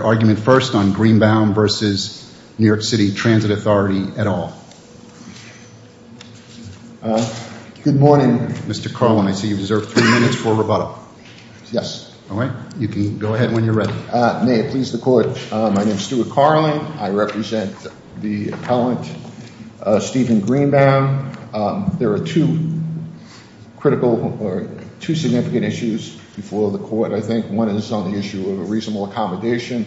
at all. Good morning. Mr. Carlin, I see you deserve three minutes for rebuttal. Yes. Alright. You can go ahead when you're ready. May it please the Court. My name is Stuart Carlin. I represent the appellant Steven Greenbaum. There are two significant issues before the Court, I think. One is on the issue of a reasonable accommodation.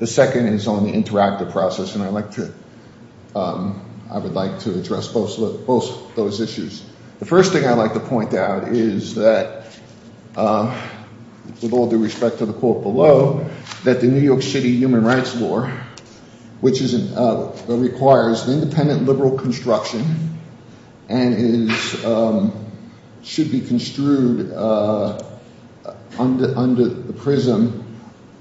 The second is on the interactive process, and I would like to address both of those issues. The first thing I'd like to point out is that with all due respect to the quote below, that the New York City Human Rights Law, which requires independent liberal construction and should be construed under the prism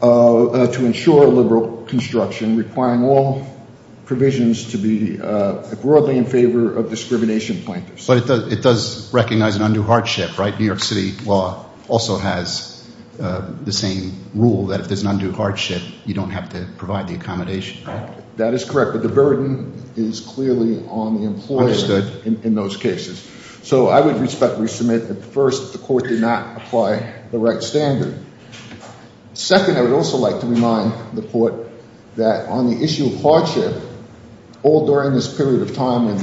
to ensure liberal construction, requiring all provisions to be broadly in favor of discrimination plaintiffs. But it does recognize an undue hardship, right? New York City law also has the same rule that if there's an undue hardship, you don't have to provide the accommodation. That is correct, but the burden is clearly on you to not apply the right standard. Second, I would also like to remind the Court that on the issue of hardship, all during this period of time when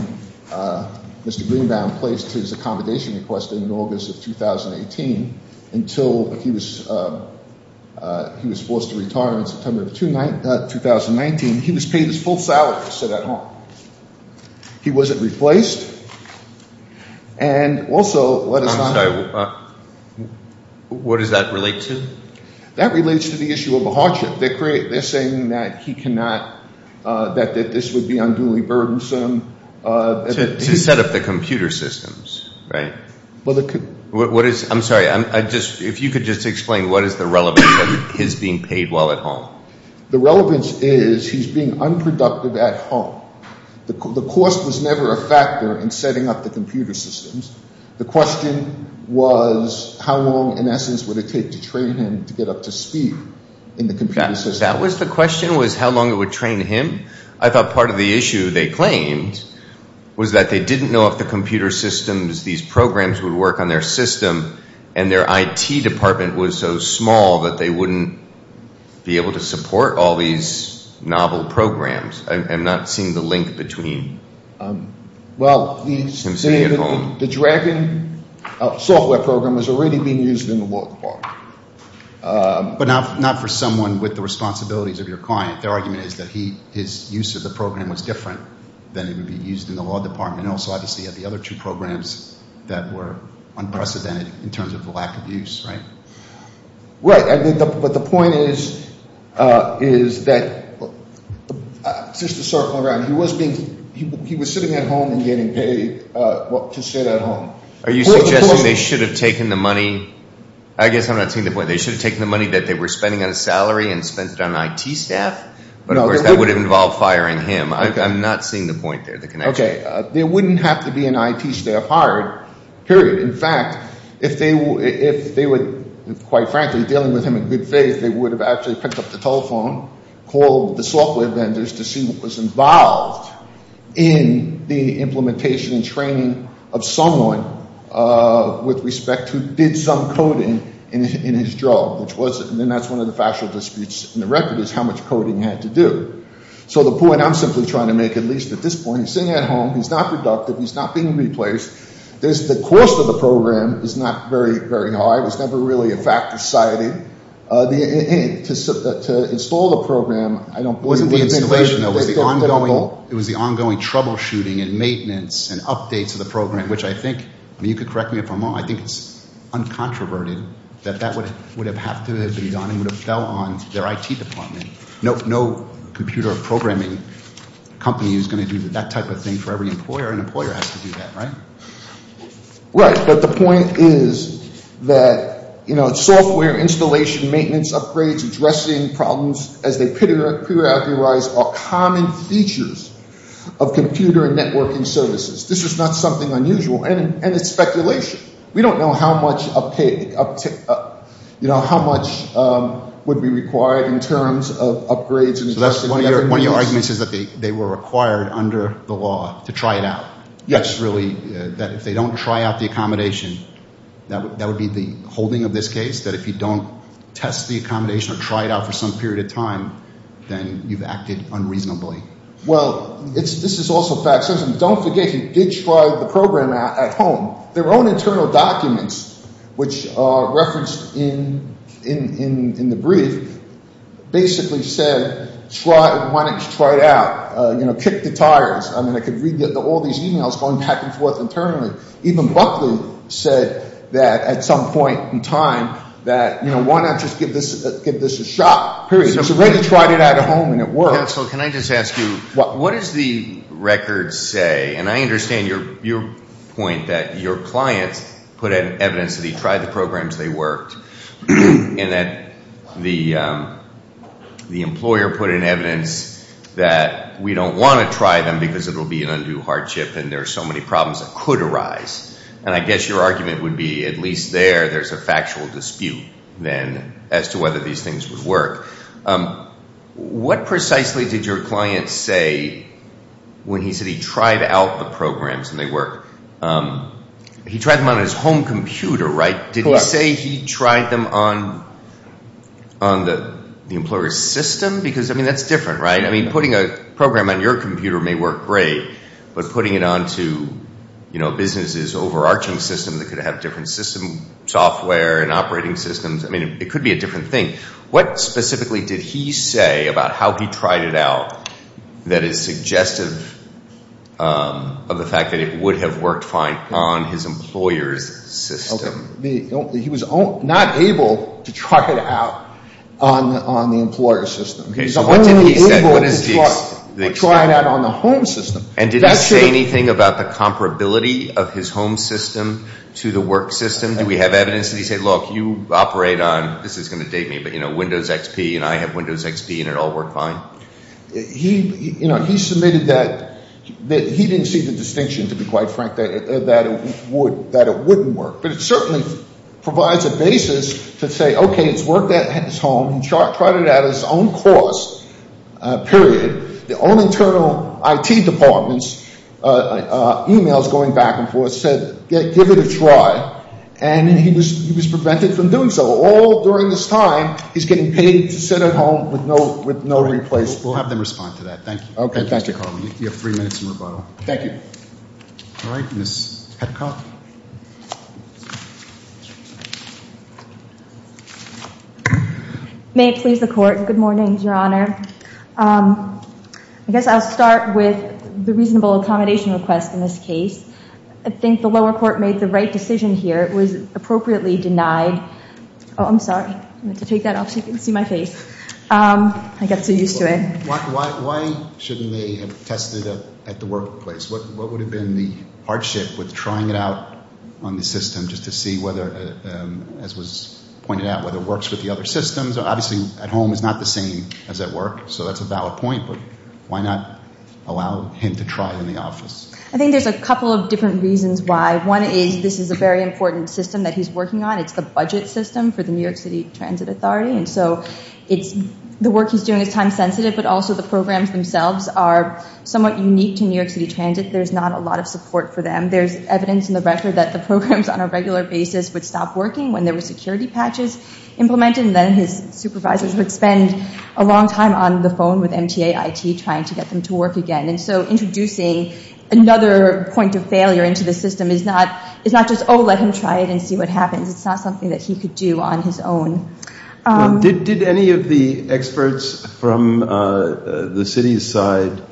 Mr. Greenbaum placed his accommodation request in August of 2018 until he was forced to retire in September of 2019, he was paid his full salary to sit at home. He wasn't replaced, and also... I'm sorry. What does that relate to? That relates to the issue of a hardship. They're saying that he cannot, that this would be unduly burdensome... To set up the computer systems, right? I'm sorry, if you could just explain what is the relevance of his being unproductive at home? The cost was never a factor in setting up the computer systems. The question was how long, in essence, would it take to train him to get up to speed in the computer systems? That was the question, was how long it would train him? I thought part of the issue they claimed was that they didn't know if the computer systems, these programs would work on their system, and their IT department was so small that they wouldn't be able to support all these novel programs. I'm not seeing the link between him sitting at home... The Dragon software program was already being used in the law department. But not for someone with the responsibilities of your client. Their argument is that his use of the program was different than it would be used in the law department, and also obviously had the other two programs that were unprecedented in terms of the lack of use, right? Right, but the point is that, just to circle around, he was sitting at home and getting paid to sit at home. Are you suggesting they should have taken the money, I guess I'm not seeing the point, they should have taken the money that they were spending on a salary and spent it on an IT staff? Of course, that would have involved firing him. I'm not seeing the point there. There wouldn't have to be an IT staff hired, period. In fact, if they were, quite frankly, dealing with him in good faith, they would have actually picked up the telephone, called the software vendors to see what was involved in the implementation and training of someone with respect to, did some coding in his drug. And then that's one of the factual disputes in the record is how much coding he had to do. So the point I'm simply trying to make, at least at this point, he's sitting at home, he's not productive, he's not being replaced, the cost of the program is not very high, it was never really a fact society. To install the program, I don't believe... It was the ongoing troubleshooting and maintenance and updates of the program, which I think, you could correct me if I'm wrong, I think it's uncontroverted that that would have have to have been done and would have fell on their IT department. No computer programming company is going to do that type of thing for every employer. An employer has to do that, right? Right, but the point is that software installation, maintenance upgrades, addressing problems as they are common features of computer and networking services. This is not something unusual, and it's speculation. We don't know how much would be required in terms of upgrades. One of your arguments is that they were required under the law to try it out. Yes. That if they don't try out the accommodation, that would be the holding of this case? That if you don't test the accommodation or try it out for some period of time, then you've acted unreasonably? Well, this is also a fact. Don't forget, he did try the program out at home. Their own internal documents, which are referenced in the brief, basically said, why not just try it out? Kick the tires. I mean, I could read all these emails going back and forth internally. Even Buckley said that at some point in time, why not just give this a shot, period. He's already tried it out at home and it worked. What does the record say, and I understand your point that your clients put in evidence that he tried the programs, they worked, and that the employer put in evidence that we don't want to try them because it will be an undue hardship and there are so many problems that could arise. And I guess your argument would be, at least there, there's a factual dispute then as to whether these things would work. What precisely did your client say when he said he tried out the programs and they worked? He tried them on his home computer, right? Did he say he tried them on the employer's system? Because, I mean, that's different, right? I mean, putting a program on your computer may work great, but putting it onto a business's overarching system that could have different system software and operating systems, I mean, it could be a different thing. What specifically did he say about how he tried it out that is suggestive of the fact that it would have worked fine on his employer's system? He was not able to try it out on the employer's system. He was only able to try it out on the home system. And did he say anything about the comparability of his home system to the work system? Do we have evidence? Did he say, look, you operate on, this is going to date me, but Windows XP and I have Windows XP and it all worked fine? He submitted that he didn't see the distinction, to be quite frank, that it wouldn't work. But it certainly provides a basis to say, okay, it's worked at his home. He tried it out at his own cost, period. The own internal IT departments, emails going back and forth, said, give it a try. And he was prevented from doing so. All during this time, he's getting paid to sit at home with no replacement. We'll have them respond to that. Thank you. All right. Ms. Petcock. May it please the Court. Good morning, Your Honor. I guess I'll start with the reasonable accommodation request in this case. I think the lower court made the right decision here. It was appropriately denied. Oh, I'm sorry. I'm going to have to take that off so you can see my face. I got so used to it. Why shouldn't they have tested it at the workplace? What would have been the hardship with trying it out on the system just to see whether, as was pointed out, whether it works with the other systems? Obviously, at home it's not the same as at work. So that's a valid point, but why not allow him to try it in the office? I think there's a couple of different reasons why. One is this is a very important system that he's working on. It's the budget system for the New York City Transit Authority. And so the work he's doing is time-sensitive, but also the programs themselves are somewhat unique to New York City Transit. There's not a lot of support for them. There's evidence in the record that the programs on a regular basis would stop working when there were security patches implemented. And then his supervisors would spend a long time on the phone with MTA IT trying to get them to work again. And so introducing another point of failure into the system is not just, oh, let him try it and see what happens. It's not something that he could do on his own. Did any of the experts from the city's side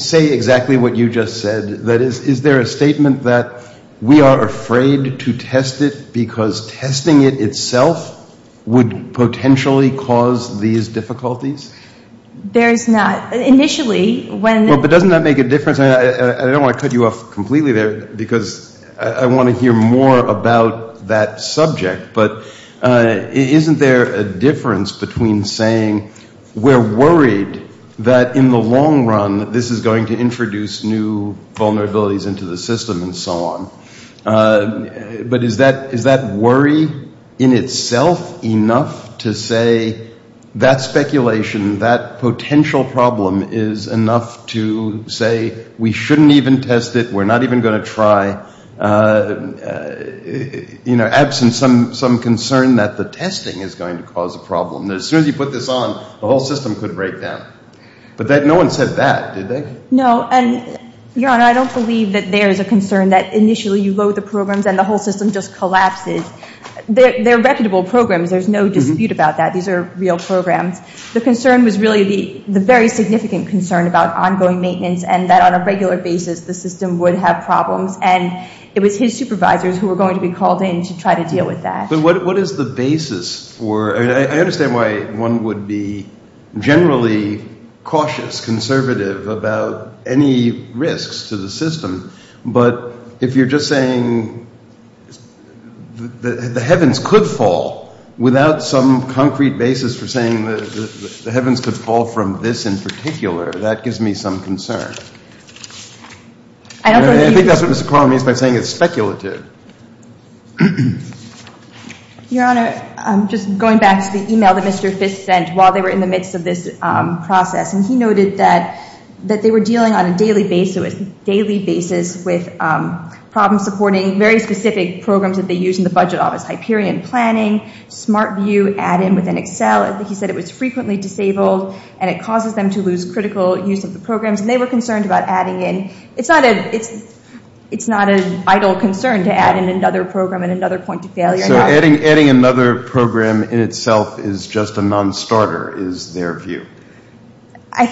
say exactly what you just said? That is, is there a statement that we are afraid to test it because testing it itself would potentially cause these difficulties? There's not. Initially, when... But doesn't that make a difference? I don't want to cut you off completely there because I want to hear more about that subject. But isn't there a difference between saying we're worried that in the long run this is going to introduce new vulnerabilities into the system and so on? But is that worry in itself enough to say that speculation, that potential problem, is enough to say we shouldn't even test it? We're not even going to try? Absent some concern that the testing is going to cause a problem. As soon as you put this on, the whole system could break down. But no one said that, did they? No, and Your Honor, I don't believe that there is a concern that initially you load the programs and the whole system just collapses. They're reputable programs. There's no dispute about that. These are real programs. The concern was really the very significant concern about ongoing maintenance and that on a regular basis the system would have problems. And it was his supervisors who were going to be called in to try to deal with that. But what is the basis? I understand why one would be generally cautious, conservative about any risks to the system. But if you're just saying the heavens could fall without some concrete basis for saying the heavens could fall from this in particular, that gives me some concern. I think that's what Mr. Cronin means by saying it's speculative. Your Honor, I'm just going back to the e-mail that Mr. Fisk sent while they were in the midst of this process. And he noted that they were dealing on a daily basis with problems supporting very specific programs that they used in the budget office. Hyperion planning, Smart View, add-in within Excel. He said it was frequently disabled and it causes them to lose critical use of the programs. And they were concerned about adding in. It's not a vital concern to add in another program and another point of failure. Adding another program in itself is just a non-starter is their view. I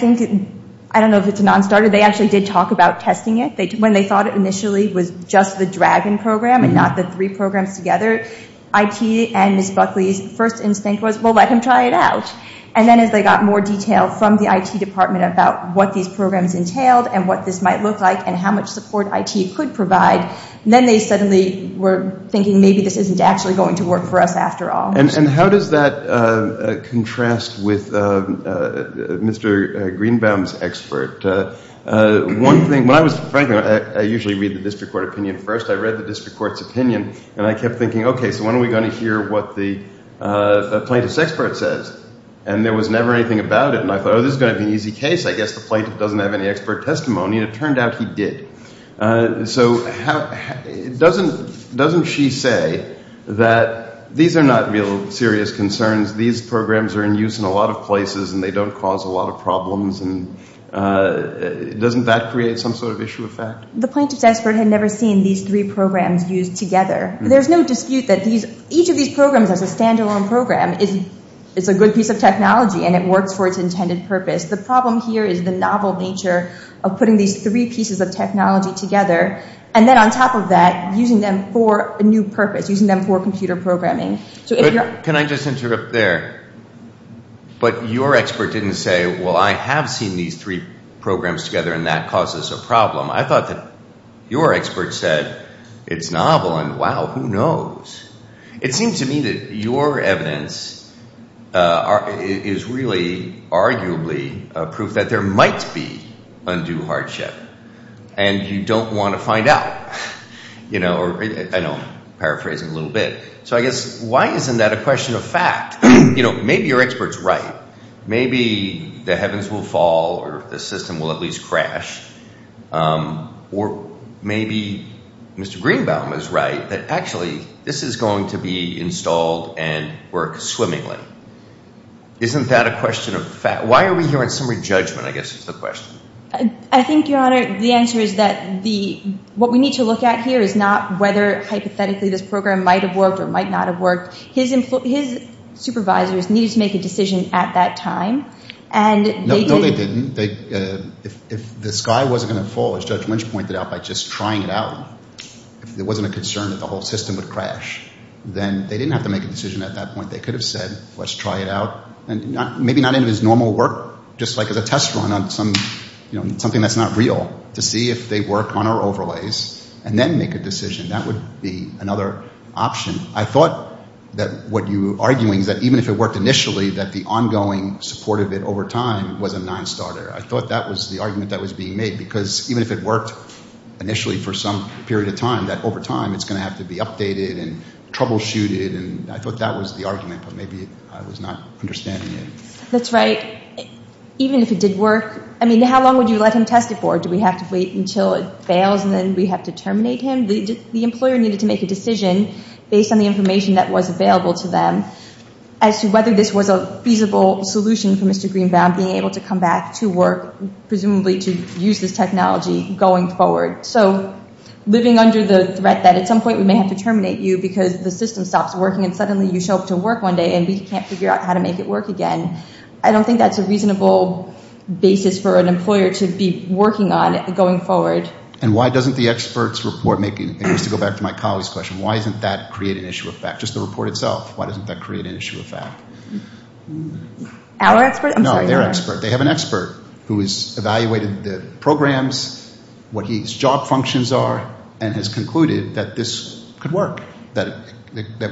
don't know if it's a non-starter. They actually did talk about testing it when they thought it initially was just the Dragon program and not the three programs together. I.T. and Ms. Buckley's first instinct was, well, let him try it out. And then as they got more detail from the I.T. department about what these programs entailed and what this might look like and how much support I.T. could provide, then they suddenly were thinking maybe this isn't actually going to work for us after all. And how does that contrast with Mr. Greenbaum's expert? One thing, when I was, frankly, I usually read the district court opinion first. I read the district court's opinion. And I kept thinking, okay, so when are we going to hear what the plaintiff's expert says? And there was never anything about it. And I thought, oh, this is going to be an easy case. I guess the plaintiff doesn't have any expert testimony. And it turned out he did. So doesn't she say that these are not real serious concerns? These programs are in use in a lot of places and they don't cause a lot of problems? And doesn't that create some sort of issue effect? The plaintiff's expert had never seen these three programs used together. There's no dispute that each of these programs is a stand-alone program. It's a good piece of technology and it works for its intended purpose. The problem here is the novel nature of putting these three pieces of technology together. And then on top of that, using them for a new purpose, using them for computer programming. Can I just interrupt there? But your expert didn't say, well, I have seen these three programs together and that causes a problem. I thought that your expert said it's novel and, wow, who knows? It seems to me that your evidence is really arguably proof that there might be undue hardship. And you don't want to find out. I know I'm paraphrasing a little bit. So I guess why isn't that a question of fact? Maybe your expert's right. Maybe the heavens will fall or the system will at least crash. Or maybe Mr. Greenbaum is right, that actually this is going to be installed and work swimmingly. Isn't that a question of fact? Why are we here in summary judgment, I guess is the question. I think, Your Honor, the answer is that what we need to look at here is not whether hypothetically this program might have worked or might not have worked. His supervisors needed to make a decision at that time. No, they didn't. If the sky wasn't going to fall, as Judge Lynch pointed out, by just trying it out, if there wasn't a concern that the whole system would crash, then they didn't have to make a decision at that point. They could have said, let's try it out. Maybe not in his normal work, just like as a test run on something that's not real, to see if they work on our overlays and then make a decision. That would be another option. I thought that what you're arguing is that even if it worked initially, that the ongoing support of it over time was a nonstarter. I thought that was the argument that was being made, because even if it worked initially for some period of time, that over time it's going to have to be updated and troubleshooted. I thought that was the argument, but maybe I was not understanding it. That's right. Even if it did work, how long would you let him test it for? Do we have to wait until it fails and then we have to terminate him? The employer needed to make a decision based on the information that was available to them as to whether this was a feasible solution for Mr. Greenbaum being able to come back to work, presumably to use this technology going forward. Living under the threat that at some point we may have to terminate you because the system stops working and suddenly you show up to work one day and we can't figure out how to make it work again, I don't think that's a reasonable basis for an employer to be working on going forward. Why doesn't the expert's report, just to go back to my colleague's question, why doesn't that create an issue of fact? Just the report itself, why doesn't that create an issue of fact? Our expert? No, their expert. They have an expert who has evaluated the programs, what his job functions are, and has concluded that this could work, that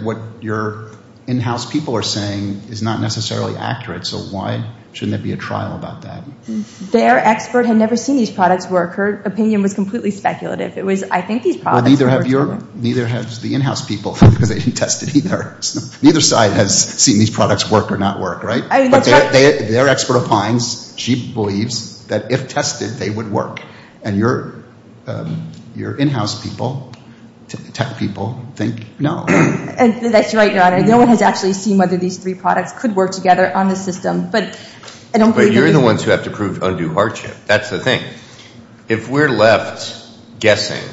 what your in-house people are saying is not necessarily accurate, so why shouldn't there be a trial about that? Their expert had never seen these products work. Her opinion was completely speculative. Neither has the in-house people because they didn't test it either. Neither side has seen these products work or not work, right? Their expert opines, she believes, that if tested, they would work. And your in-house people, tech people, think no. That's right, Your Honor. No one has actually seen whether these three products could work together on the system. But you're the ones who have to prove undue hardship. That's the thing. If we're left guessing,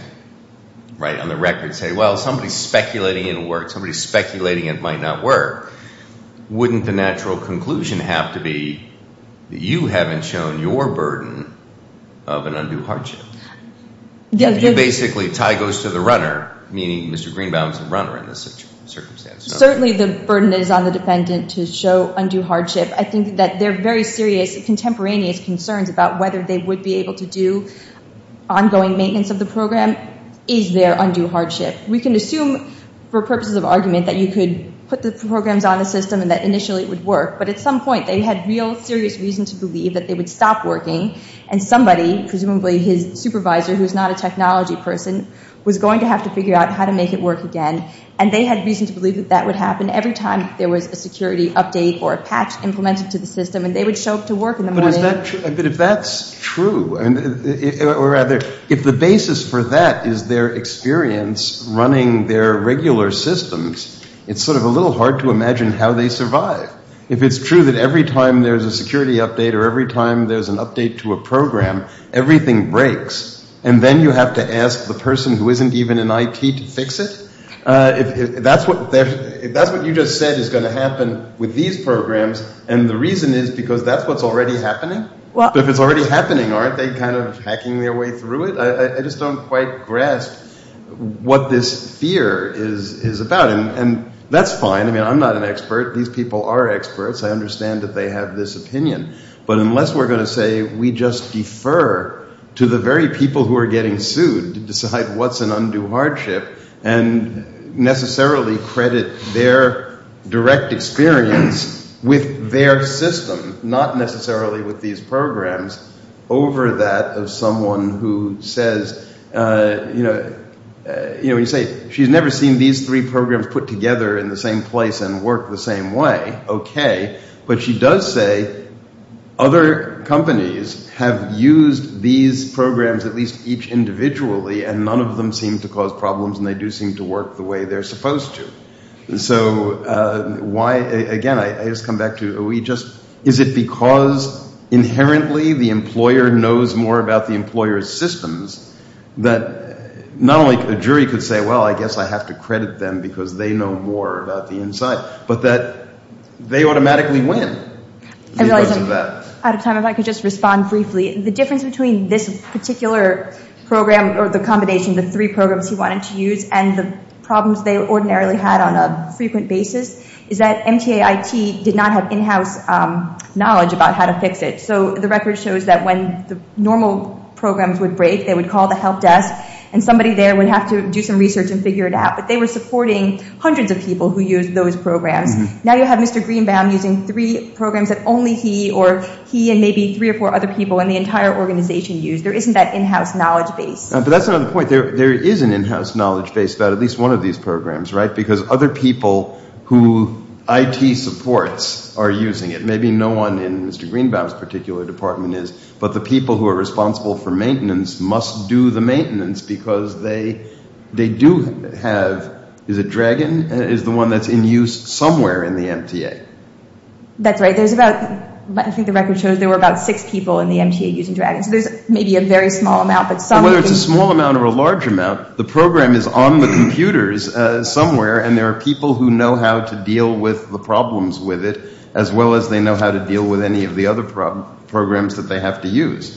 right, on the record, saying, well, somebody's speculating it'll work, somebody's speculating it might not work, wouldn't the natural conclusion have to be that you haven't shown your burden of an undue hardship? Basically, tie goes to the runner, meaning Mr. Greenbaum's the runner in this circumstance. Certainly the burden is on the defendant to show undue hardship. I think that their very serious contemporaneous concerns about whether they would be able to do ongoing maintenance of the program is their undue hardship. We can assume, for purposes of argument, that you could put the programs on the system and that initially it would work. But at some point they had real serious reason to believe that they would stop working and somebody, presumably his supervisor, who's not a technology person, was going to have to figure out how to make it work again. And they had reason to believe that that would happen every time there was a security update or a patch implemented to the system and they would show up to work in the morning. But if that's true, or rather, if the basis for that is their experience running their regular systems, it's sort of a little hard to imagine how they survive. If it's true that every time there's a security update or every time there's an update to a program, everything breaks, and then you have to ask the person who isn't even in IT to fix it? If that's what you just said is going to happen with these programs, and the reason is because that's what's already happening? But if it's already happening, aren't they kind of hacking their way through it? I just don't quite grasp what this fear is about. And that's fine. I mean, I'm not an expert. These people are experts. I understand that they have this opinion. But unless we're going to say we just defer to the very people who are getting sued to decide what's an undue hardship and necessarily credit their direct experience with their system, not necessarily with these programs, over that of someone who says, you know, when you say she's never seen these three programs put together in the same place and work the same way, okay. But she does say other companies have used these programs at least each individually, and none of them seem to cause problems, and they do seem to work the way they're supposed to. So why, again, I just come back to, is it because inherently the employer knows more about the employer's systems that not only a jury could say, well, I guess I have to credit them because they know more about the inside, but that they automatically win because of that? I realize I'm out of time. If I could just respond briefly. The difference between this particular program or the combination of the three programs he wanted to use and the problems they ordinarily had on a frequent basis is that MTAIT did not have in-house knowledge about how to fix it. So the record shows that when the normal programs would break, they would call the help desk, and somebody there would have to do some research and figure it out. But they were supporting hundreds of people who used those programs. Now you have Mr. Greenbaum using three programs that only he or he and maybe three or four other people in the entire organization use. There isn't that in-house knowledge base. But that's another point. There is an in-house knowledge base about at least one of these programs, right? Because other people who IT supports are using it. Maybe no one in Mr. Greenbaum's particular department is, but the people who are responsible for maintenance must do the maintenance because they do have, is it Dragon, is the one that's in use somewhere in the MTA. That's right. I think the record shows there were about six people in the MTA using Dragon. So there's maybe a very small amount. But whether it's a small amount or a large amount, the program is on the computers somewhere, and there are people who know how to deal with the problems with it as well as they know how to deal with any of the other programs that they have to use.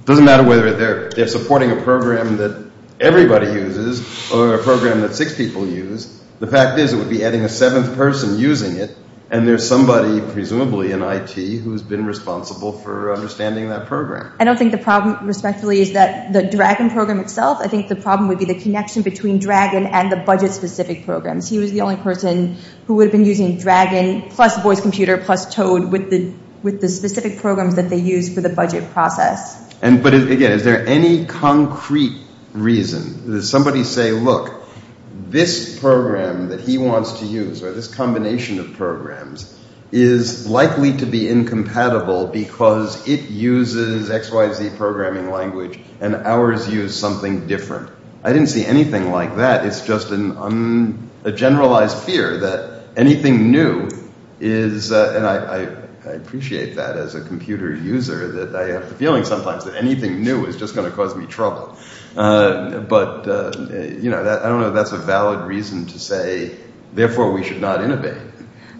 It doesn't matter whether they're supporting a program that everybody uses or a program that six people use. The fact is it would be adding a seventh person using it, and there's somebody, presumably in IT, who's been responsible for understanding that program. I don't think the problem, respectively, is that the Dragon program itself. I think the problem would be the connection between Dragon and the budget-specific programs. He was the only person who would have been using Dragon plus Voice Computer plus Toad with the specific programs that they use for the budget process. But again, is there any concrete reason? Does somebody say, look, this program that he wants to use, or this combination of programs, is likely to be incompatible because it uses XYZ programming language, and ours use something different? I didn't see anything like that. It's just a generalized fear that anything new is, and I appreciate that as a computer user, that I have the feeling sometimes that anything new is just going to cause me trouble. But I don't know if that's a valid reason to say, therefore, we should not innovate.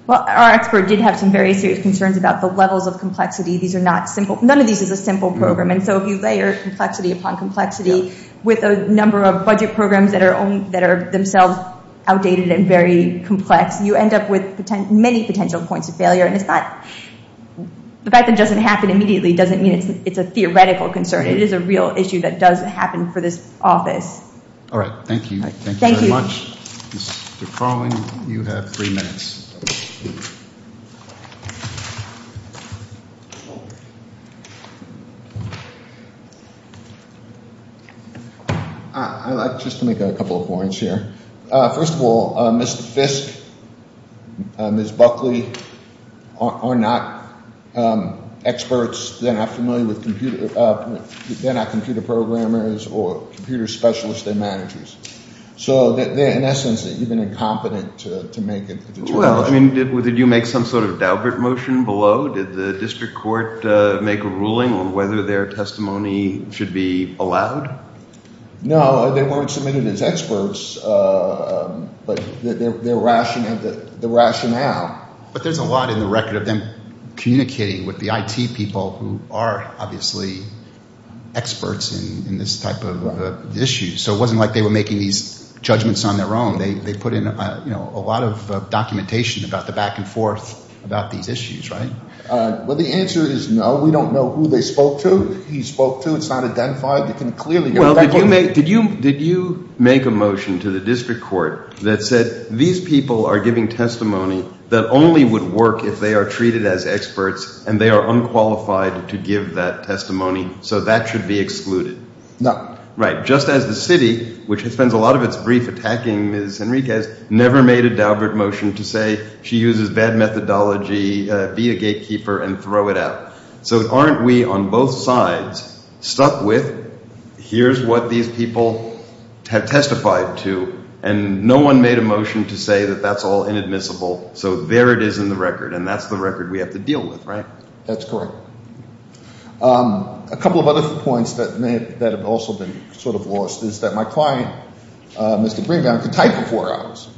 Our expert did have some very serious concerns about the levels of complexity. None of these is a simple program, and so if you layer complexity upon complexity with a number of budget programs that are themselves outdated and very complex, you end up with many potential points of failure. The fact that it doesn't happen immediately doesn't mean it's a theoretical concern. It is a real issue that does happen for this office. Thank you very much. I'd like just to make a couple of points here. First of all, Mr. Fisk, Ms. Buckley are not experts. They're not familiar with computers. They're not computer programmers or computer specialists. They're managers. So they're, in essence, even incompetent to make a determination. Well, I mean, did you make some sort of daubert motion below? Did the district court make a ruling on whether their testimony should be allowed? No, they weren't submitted as experts, but their rationale. But there's a lot in the record of them communicating with the IT people who are obviously experts in this type of issue. So it wasn't like they were making these judgments on their own. They put in a lot of documentation about the back and forth about these issues, right? Well, the answer is no. We don't know who they spoke to, who he spoke to. It's not identified. Did you make a motion to the district court that said, these people are giving testimony that only would work if they are treated as experts and they are unqualified to give that testimony, so that should be excluded? No. Right, just as the city, which spends a lot of its brief attacking Ms. Henriquez, never made a daubert motion to say she uses bad methodology, be a gatekeeper and throw it out. So aren't we on both sides stuck with, here's what these people have testified to, and no one made a motion to say that that's all inadmissible. So there it is in the record, and that's the record we have to deal with, right? That's correct. A couple of other points that have also been sort of lost is that my client, Mr. Bringdown, could type for four hours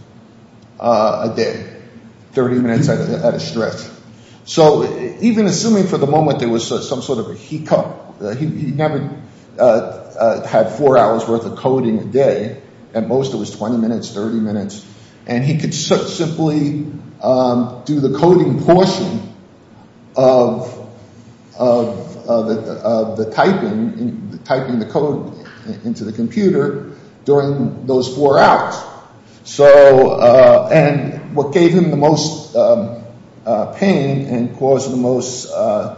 a day, 30 minutes at a stretch. So even assuming for the moment there was some sort of a hiccup, he never had four hours worth of coding a day, at most it was 20 minutes, 30 minutes, and he could simply do the coding portion of the typing, typing the code into the computer during those four hours. And what gave him the most pain and caused the most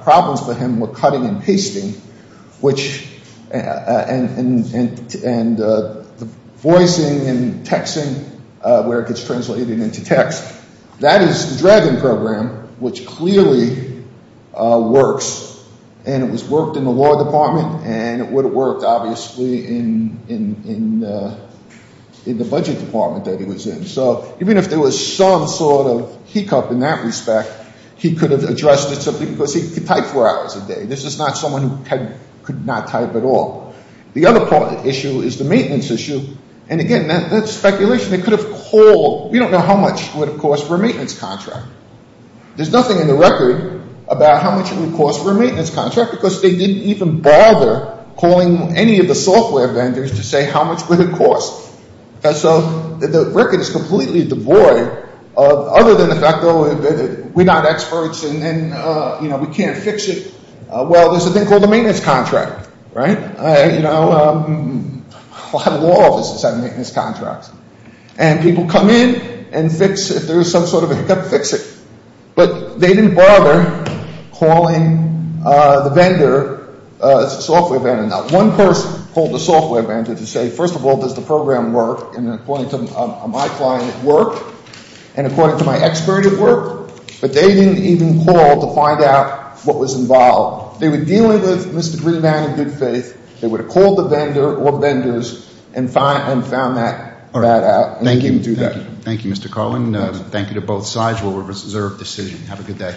problems for him were cutting and pasting, and voicing and texting, where it gets translated into text. That is the Dragon program, which clearly works, and it was worked in the law department, and it would have worked, obviously, in the budget department that he was in. So even if there was some sort of hiccup in that respect, he could have addressed it simply because he could type four hours a day. This is not someone who could not type at all. The other issue is the maintenance issue, and again, that's speculation. We don't know how much it would have cost for a maintenance contract. There's nothing in the record about how much it would cost for a maintenance contract, because they didn't even bother calling any of the software vendors to say how much would it cost. So the record is completely devoid, other than the fact that we're not experts, and we can't fix it. Well, there's a thing called a maintenance contract. A lot of law offices have maintenance contracts, and people come in and fix it, if there's some sort of a hiccup, fix it. But they didn't bother calling the software vendor. Now, one person called the software vendor to say, first of all, does the program work, and according to my client, it worked, and according to my expert, it worked, but they didn't even call to find out what was involved. If they were dealing with Mr. Greenman in good faith, they would have called the vendor or vendors and found that out. Thank you, Mr. Carlin. Thank you to both sides. We'll reserve decision. Have a good day.